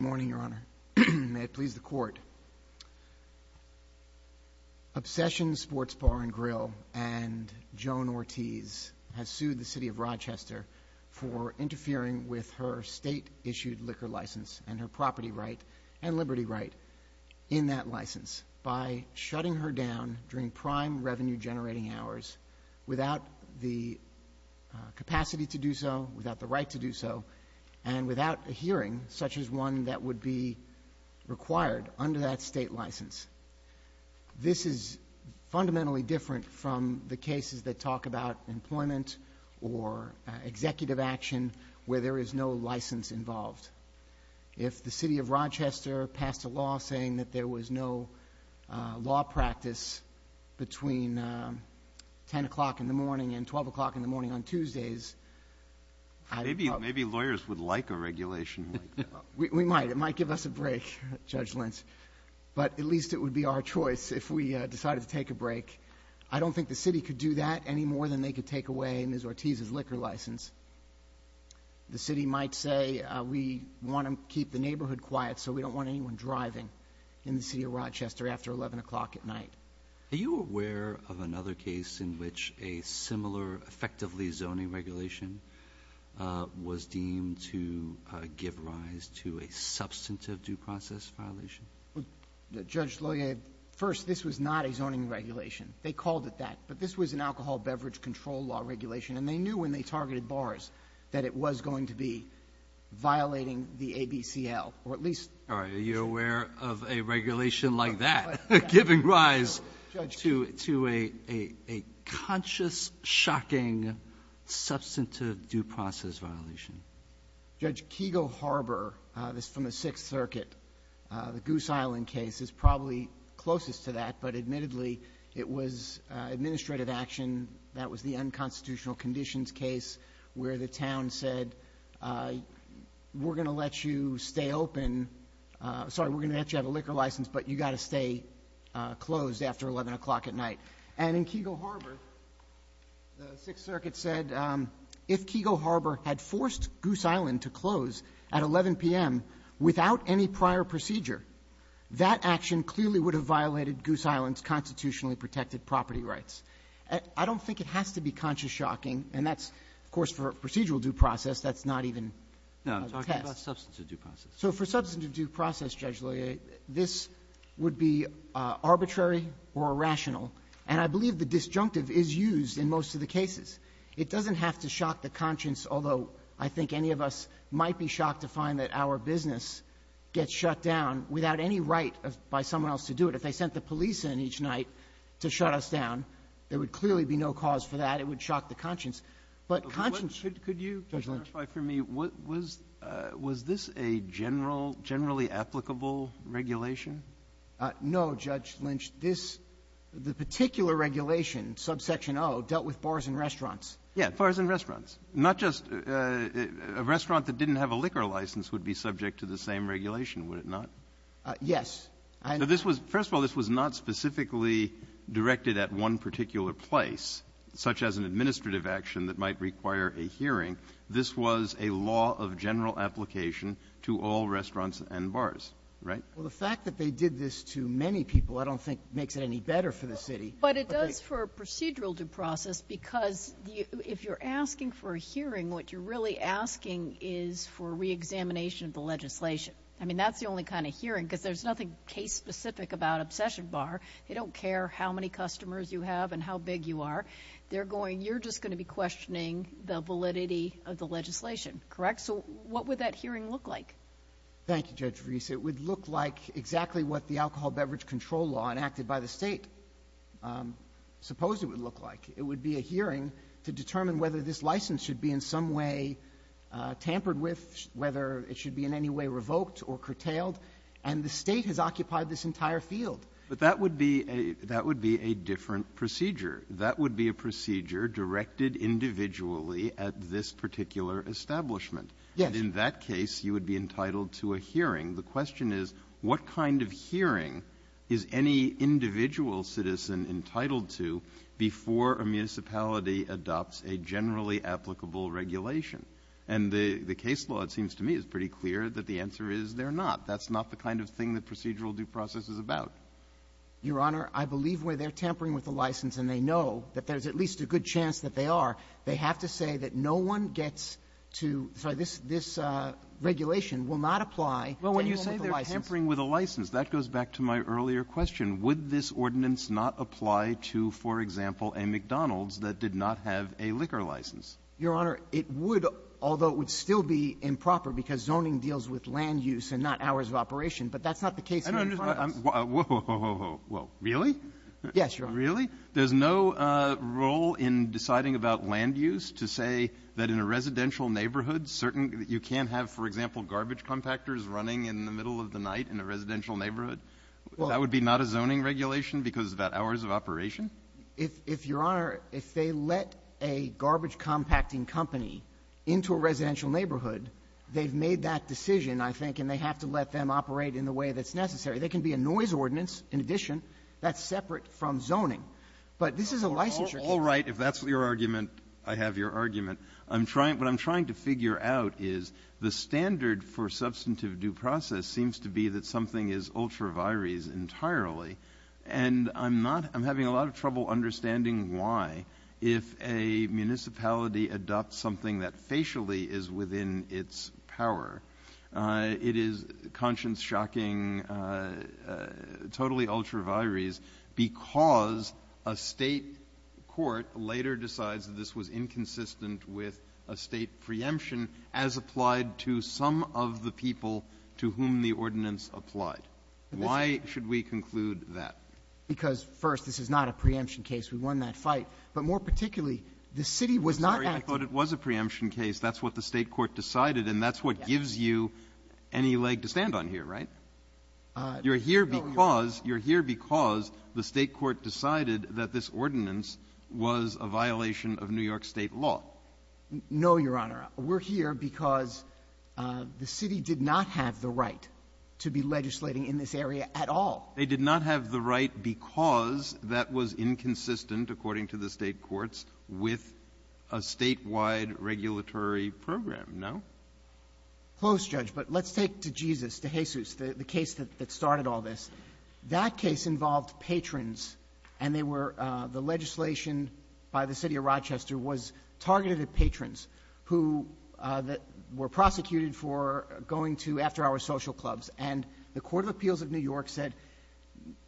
Good morning, Your Honor. May it please the Court. Obsession Sports Bar & Grill and Joan Ortiz have sued the City of Rochester for interfering with her state-issued liquor license and her property right and liberty right in that license by shutting her down during prime revenue-generating hours without the capacity to do so, without the right to do so, and without a hearing such as one that would be required under that state license. This is fundamentally different from the cases that talk about employment or executive action where there is no license involved. If the City of Rochester passed a law saying that there was no law practice between 10 o'clock in the morning and 12 o'clock in the morning on Tuesdays... Maybe lawyers would like a regulation like that. We might. It might give us a break, Judge Lentz, but at least it would be our choice if we decided to take a break. I don't think the City could do that any more than they could take away Ms. Ortiz's liquor license. The City might say, we want to keep the neighborhood quiet so we don't want anyone driving in the City of Rochester after 11 o'clock at night. Are you aware of another case in which a similar effectively zoning regulation was deemed to give rise to a substantive due process violation? Judge, first, this was not a zoning regulation. They called it that. But this was an alcohol beverage control law regulation, and they knew when they targeted bars that it was going to be violating the ABCL, or at least... All right. Are you aware of a regulation like that giving rise... No. ...to a conscious, shocking, substantive due process violation? Judge, Kegel Harbor, this is from the Sixth Circuit, the Goose Island case is probably closest to that, but admittedly, it was administrative action. That was the unconstitutional conditions case where the town said, we're going to let you stay open. Sorry, we're going to let you have a liquor license, but you've got to stay closed after 11 o'clock at night. And in Kegel Harbor, the Sixth Circuit said, if Kegel Harbor had forced Goose Island to close at 11 p.m. without any prior procedure, that action clearly would have violated Goose Island's constitutionally protected property rights. I don't think it has to be conscious, shocking, and that's, of course, for procedural due process, that's not even a test. No. I'm talking about substantive due process. So for substantive due process, Judge Leyer, this would be arbitrary or irrational, and I believe the disjunctive is used in most of the cases. It doesn't have to shock the conscience, although I think any of us might be shocked to find that our business gets shut down without any right by someone else to do it. If they sent the police in each night to shut us down, there would clearly be no cause for that. It would shock the conscience. But conscience --" applicable regulation? No, Judge Lynch. This the particular regulation, subsection O, dealt with bars and restaurants. Yeah, bars and restaurants. Not just a restaurant that didn't have a liquor license would be subject to the same regulation, would it not? Yes. This was – first of all, this was not specifically directed at one particular place, such as an administrative action that might require a hearing. This was a law of general application to all restaurants and bars, right? Well, the fact that they did this to many people I don't think makes it any better for the city. But it does for a procedural due process because if you're asking for a hearing, what you're really asking is for reexamination of the legislation. I mean, that's the only kind of hearing because there's nothing case-specific about Obsession Bar. They don't care how many customers you have and how big you are. They're going, you're just going to be questioning the validity of the legislation, correct? So what would that hearing look like? Thank you, Judge Ruiz. It would look like exactly what the alcohol beverage control law enacted by the State supposed it would look like. It would be a hearing to determine whether this license should be in some way tampered with, whether it should be in any way revoked or curtailed. And the State has occupied this entire field. But that would be a different procedure. That would be a procedure directed individually at this particular establishment. Yes. And in that case, you would be entitled to a hearing. The question is, what kind of hearing is any individual citizen entitled to before a municipality adopts a generally applicable regulation? And the case law, it seems to me, is pretty clear that the Your Honor, I believe where they're tampering with the license and they know that there's at least a good chance that they are, they have to say that no one gets to this regulation will not apply tampering with the license. Well, when you say they're tampering with a license, that goes back to my earlier question. Would this ordinance not apply to, for example, a McDonald's that did not have a liquor license? Your Honor, it would, although it would still be improper because zoning deals with land use and not hours of operation. But that's not the case here in front of us. Whoa, whoa, whoa, whoa, whoa. Really? Yes, Your Honor. Really? There's no role in deciding about land use to say that in a residential neighborhood, certain you can't have, for example, garbage compactors running in the middle of the night in a residential neighborhood? That would be not a zoning regulation because of that hours of operation? If Your Honor, if they let a garbage compacting company into a residential neighborhood, they've made that decision, I think, and they have to let them operate in the way that's necessary. There can be a noise ordinance, in addition, that's separate from zoning. But this is a licensure case. All right. If that's your argument, I have your argument. I'm trying to figure out is the standard for substantive due process seems to be that something is ultra vires entirely. And I'm not — I'm having a lot of trouble understanding why, if a municipality adopts something that facially is within its power, it is conscience-shocking, totally ultra vires because a State court later decides that this was inconsistent with a State preemption as applied to some of the people to whom the ordinance applied. Why should we conclude that? Because, first, this is not a preemption case. We won that fight. But more particularly, the City was not acting — I'm sorry. I thought it was a preemption case. That's what the State court decided. And that's what gives you any leg to stand on here, right? You're here because — you're here because the State court decided that this ordinance was a violation of New York State law. No, Your Honor. We're here because the City did not have the right to be legislating in this area at all. They did not have the right because that was inconsistent, according to the State courts, with a State-wide regulatory program, no? Close, Judge. But let's take to Jesus, to Jesus, the case that started all this. That case involved patrons, and they were — the legislation by the City of Rochester was targeted at patrons who were prosecuted for going to after-hours social clubs. And the court of appeals of New York said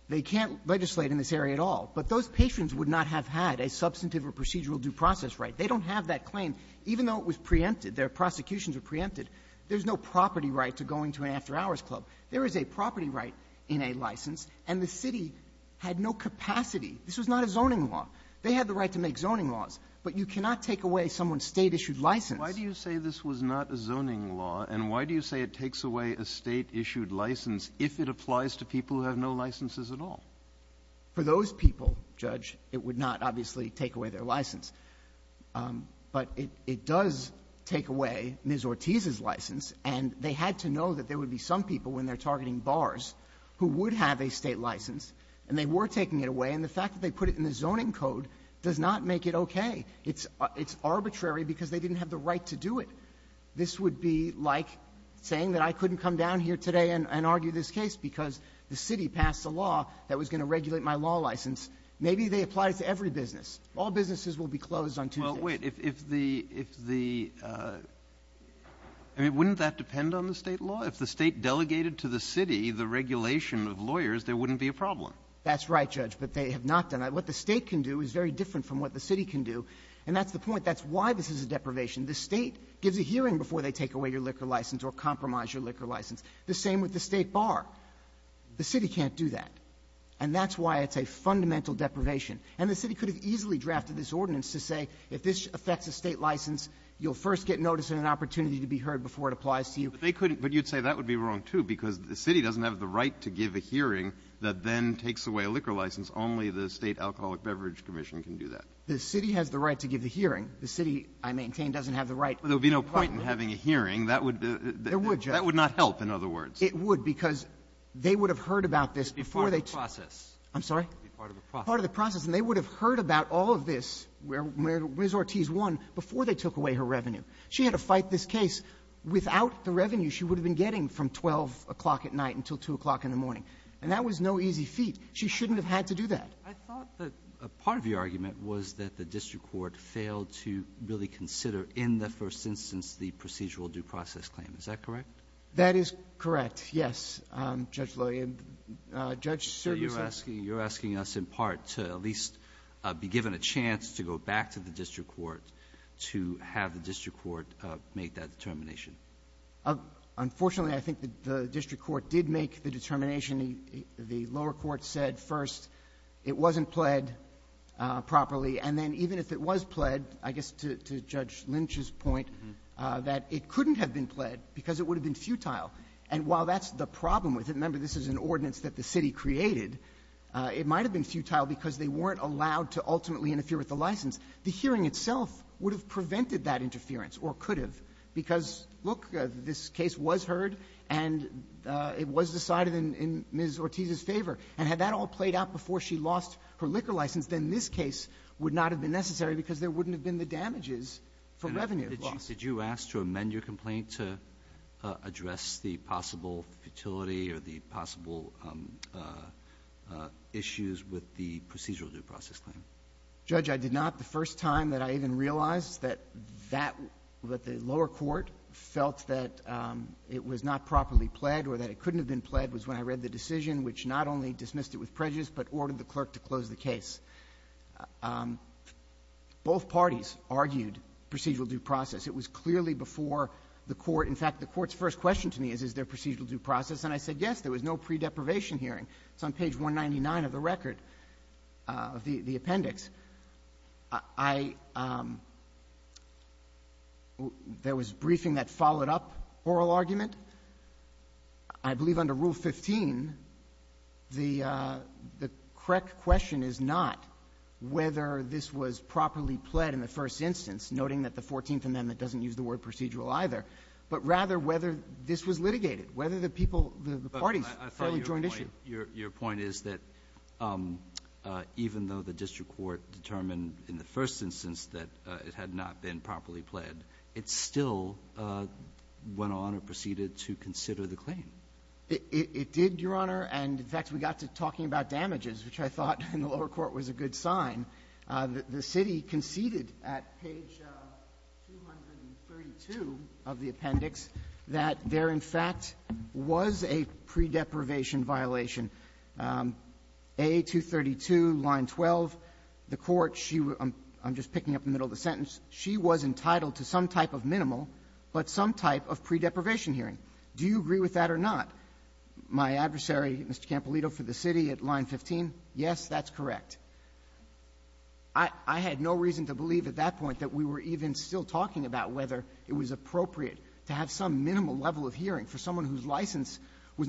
they can't legislate in this area at all. But those patrons would not have had a substantive or procedural due process right. They don't have that claim. Even though it was preempted, their prosecutions were preempted, there's no property right to going to an after-hours club. There is a property right in a license, and the City had no capacity. This was not a zoning law. They had the right to make zoning laws. But you cannot take away someone's State-issued license. Why do you say this was not a zoning law, and why do you say it takes away a State-issued license if it applies to people who have no licenses at all? For those people, Judge, it would not, obviously, take away their license. But it does take away Ms. Ortiz's license, and they had to know that there would be some people, when they're targeting bars, who would have a State license, and they were taking it away. And the fact that they put it in the zoning code does not make it okay. It's arbitrary because they didn't have the right to do it. This would be like saying that I couldn't come down here today and argue this case because the City passed a law that was going to regulate my law license. Maybe they apply it to every business. All businesses will be closed on Tuesday. Well, wait. If the — I mean, wouldn't that depend on the State law? If the State delegated to the City the regulation of lawyers, there wouldn't be a problem. That's right, Judge, but they have not done it. What the State can do is very different from what the City can do, and that's the point. That's why this is a deprivation. The State gives a hearing before they take away your liquor license or compromise your liquor license. The same with the State bar. The City can't do that, and that's why it's a fundamental deprivation. And the City could have easily drafted this ordinance to say if this affects a State license, you'll first get notice and an opportunity to be heard before it applies to you. But they couldn't. But you'd say that would be wrong, too, because the City doesn't have the right to give a hearing that then takes away a liquor license. Only the State Alcoholic Beverage Commission can do that. The City has the right to give the hearing. The City, I maintain, doesn't have the right. But there would be no point in having a hearing. That would be — There would, Judge. That would not help, in other words. It would, because they would have heard about this before they took — It would be part of the process. I'm sorry? It would be part of the process. Part of the process. And they would have heard about all of this, where Ms. Ortiz won, before they took away her revenue. She had to fight this case. Without the revenue, she would have been getting from 12 o'clock at night until 2 o'clock in the morning. And that was no easy feat. She shouldn't have had to do that. I thought that part of your argument was that the district court failed to really consider, in the first instance, the procedural due process claim. Is that correct? That is correct, yes, Judge Lillian. Judge, sir, you said — So you're asking us, in part, to at least be given a chance to go back to the district court to have the district court make that determination. Unfortunately, I think the district court did make the determination. The lower court said, first, it wasn't pled properly. And then even if it was pled, I guess to Judge Lynch's point, that it couldn't have been pled because it would have been futile. And while that's the problem with it — remember, this is an ordinance that the City created — it might have been futile because they weren't allowed to ultimately interfere with the license. The hearing itself would have prevented that interference, or could have, because, look, this case was heard and it was decided in Ms. Ortiz's favor. And had that all played out before she lost her liquor license, then this case would not have been necessary because there wouldn't have been the damages for revenue loss. Did you ask to amend your complaint to address the possible futility or the possible issues with the procedural due process claim? Judge, I did not. The first time that I even realized that that — that the lower court felt that it was not properly pled or that it couldn't have been pled was when I read the decision, which not only dismissed it with prejudice, but ordered the clerk to close the case. Both parties argued procedural due process. It was clearly before the court. In fact, the court's first question to me is, is there procedural due process? And I said, yes. There was no pre-deprivation hearing. It's on page 199 of the record, of the appendix. I — there was briefing that followed up oral argument. I believe under Rule 15, the correct question is not whether this was properly pled in the first instance, noting that the Fourteenth Amendment doesn't use the word procedural either, but rather whether this was litigated, whether the people, the Your point is that even though the district court determined in the first instance that it had not been properly pled, it still went on or proceeded to consider the claim. It did, Your Honor. And, in fact, we got to talking about damages, which I thought in the lower court was a good sign. The city conceded at page 232 of the appendix that there, in fact, was a pre-deprivation violation. A232, line 12, the court, she — I'm just picking up the middle of the sentence. She was entitled to some type of minimal, but some type of pre-deprivation hearing. Do you agree with that or not? My adversary, Mr. Campolito, for the city at line 15, yes, that's correct. I had no reason to believe at that point that we were even still talking about whether it was appropriate to have some minimal level of hearing for someone whose license was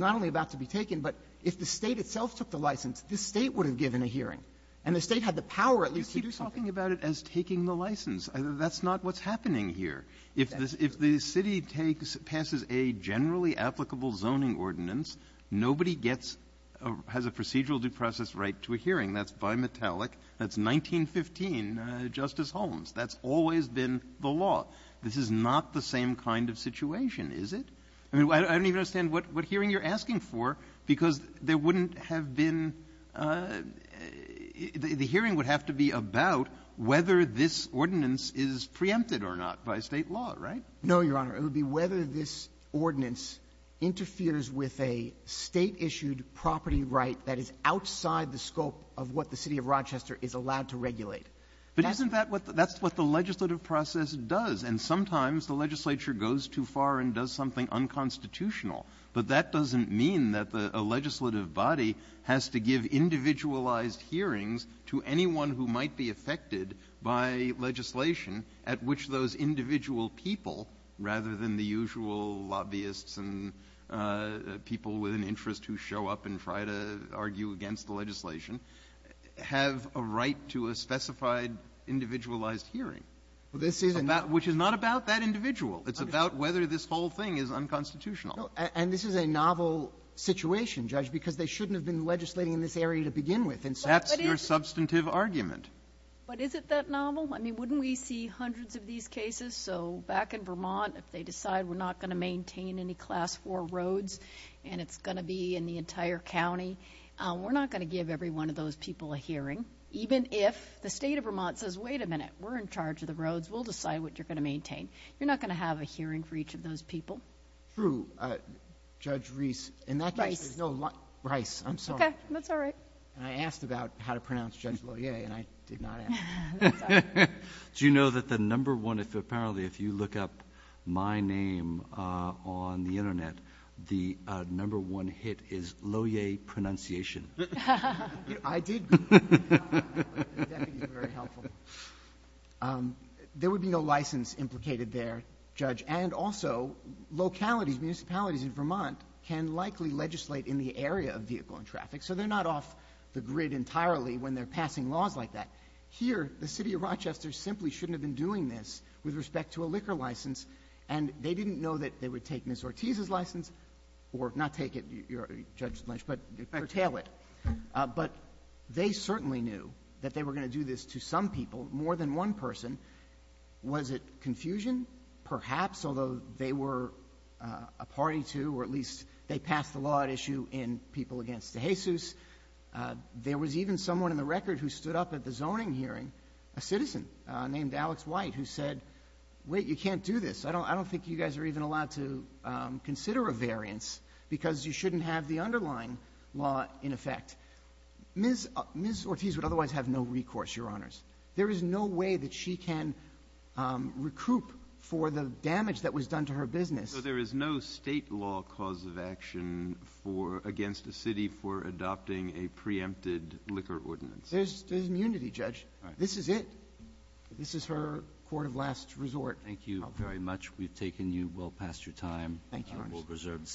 taken. But if the State itself took the license, this State would have given a hearing. And the State had the power, at least, to do something. You keep talking about it as taking the license. That's not what's happening here. If the city takes — passes a generally applicable zoning ordinance, nobody gets — has a procedural due process right to a hearing. That's bimetallic. That's 1915 Justice Holmes. That's always been the law. This is not the same kind of situation, is it? I mean, I don't even understand what hearing you're asking for, because there wouldn't have been — the hearing would have to be about whether this ordinance is preempted or not by State law, right? No, Your Honor. It would be whether this ordinance interferes with a State-issued property right that is outside the scope of what the city of Rochester is allowed to regulate. But isn't that what the — that's what the legislative process does. And sometimes the legislature goes too far and does something unconstitutional. But that doesn't mean that a legislative body has to give individualized hearings to anyone who might be affected by legislation at which those individual people, rather than the usual lobbyists and people with an interest who show up and try to argue against the legislation, have a right to a specified individualized hearing, which is not about that individual. It's about whether this whole thing is unconstitutional. And this is a novel situation, Judge, because they shouldn't have been legislating in this area to begin with. And so — That's your substantive argument. But is it that novel? I mean, wouldn't we see hundreds of these cases? So back in Vermont, if they decide we're not going to maintain any Class IV roads and it's going to be in the entire county, we're not going to give every one of those people a hearing, even if the state of Vermont says, wait a minute, we're in charge of the roads, we'll decide what you're going to maintain. You're not going to have a hearing for each of those people. True. Judge Reese — Bryce. Bryce. I'm sorry. Okay. That's all right. And I asked about how to pronounce Judge Loyer, and I did not ask. That's all right. Do you know that the number one — apparently, if you look up my name on the Internet, the number one hit is Loyer pronunciation. I did Google it, but the deputy is very helpful. There would be no license implicated there, Judge. And also, localities, municipalities in Vermont can likely legislate in the area of vehicle and traffic, so they're not off the grid entirely when they're passing laws like that. Here, the city of Rochester simply shouldn't have been doing this with respect to a liquor license, and they didn't know that they would take Ms. Ortiz's license — or not take it, Judge Lynch, but curtail it. But they certainly knew that they were going to do this to some people, more than one person. Was it confusion? Perhaps, although they were a party to, or at least they passed the law at issue in people against DeJesus. There was even someone in the record who stood up at the zoning hearing, a citizen named Alex White, who said, wait, you can't do this. I don't think you guys are even allowed to consider a variance because you shouldn't have the underlying law in effect. Ms. Ortiz would otherwise have no recourse, Your Honors. There is no way that she can recoup for the damage that was done to her business. So there is no State law cause of action against a city for adopting a preempted liquor ordinance? There's immunity, Judge. This is it. This is her court of last resort. Thank you very much. We've taken you well past your time. Thank you, Your Honors. We'll reserve the decision.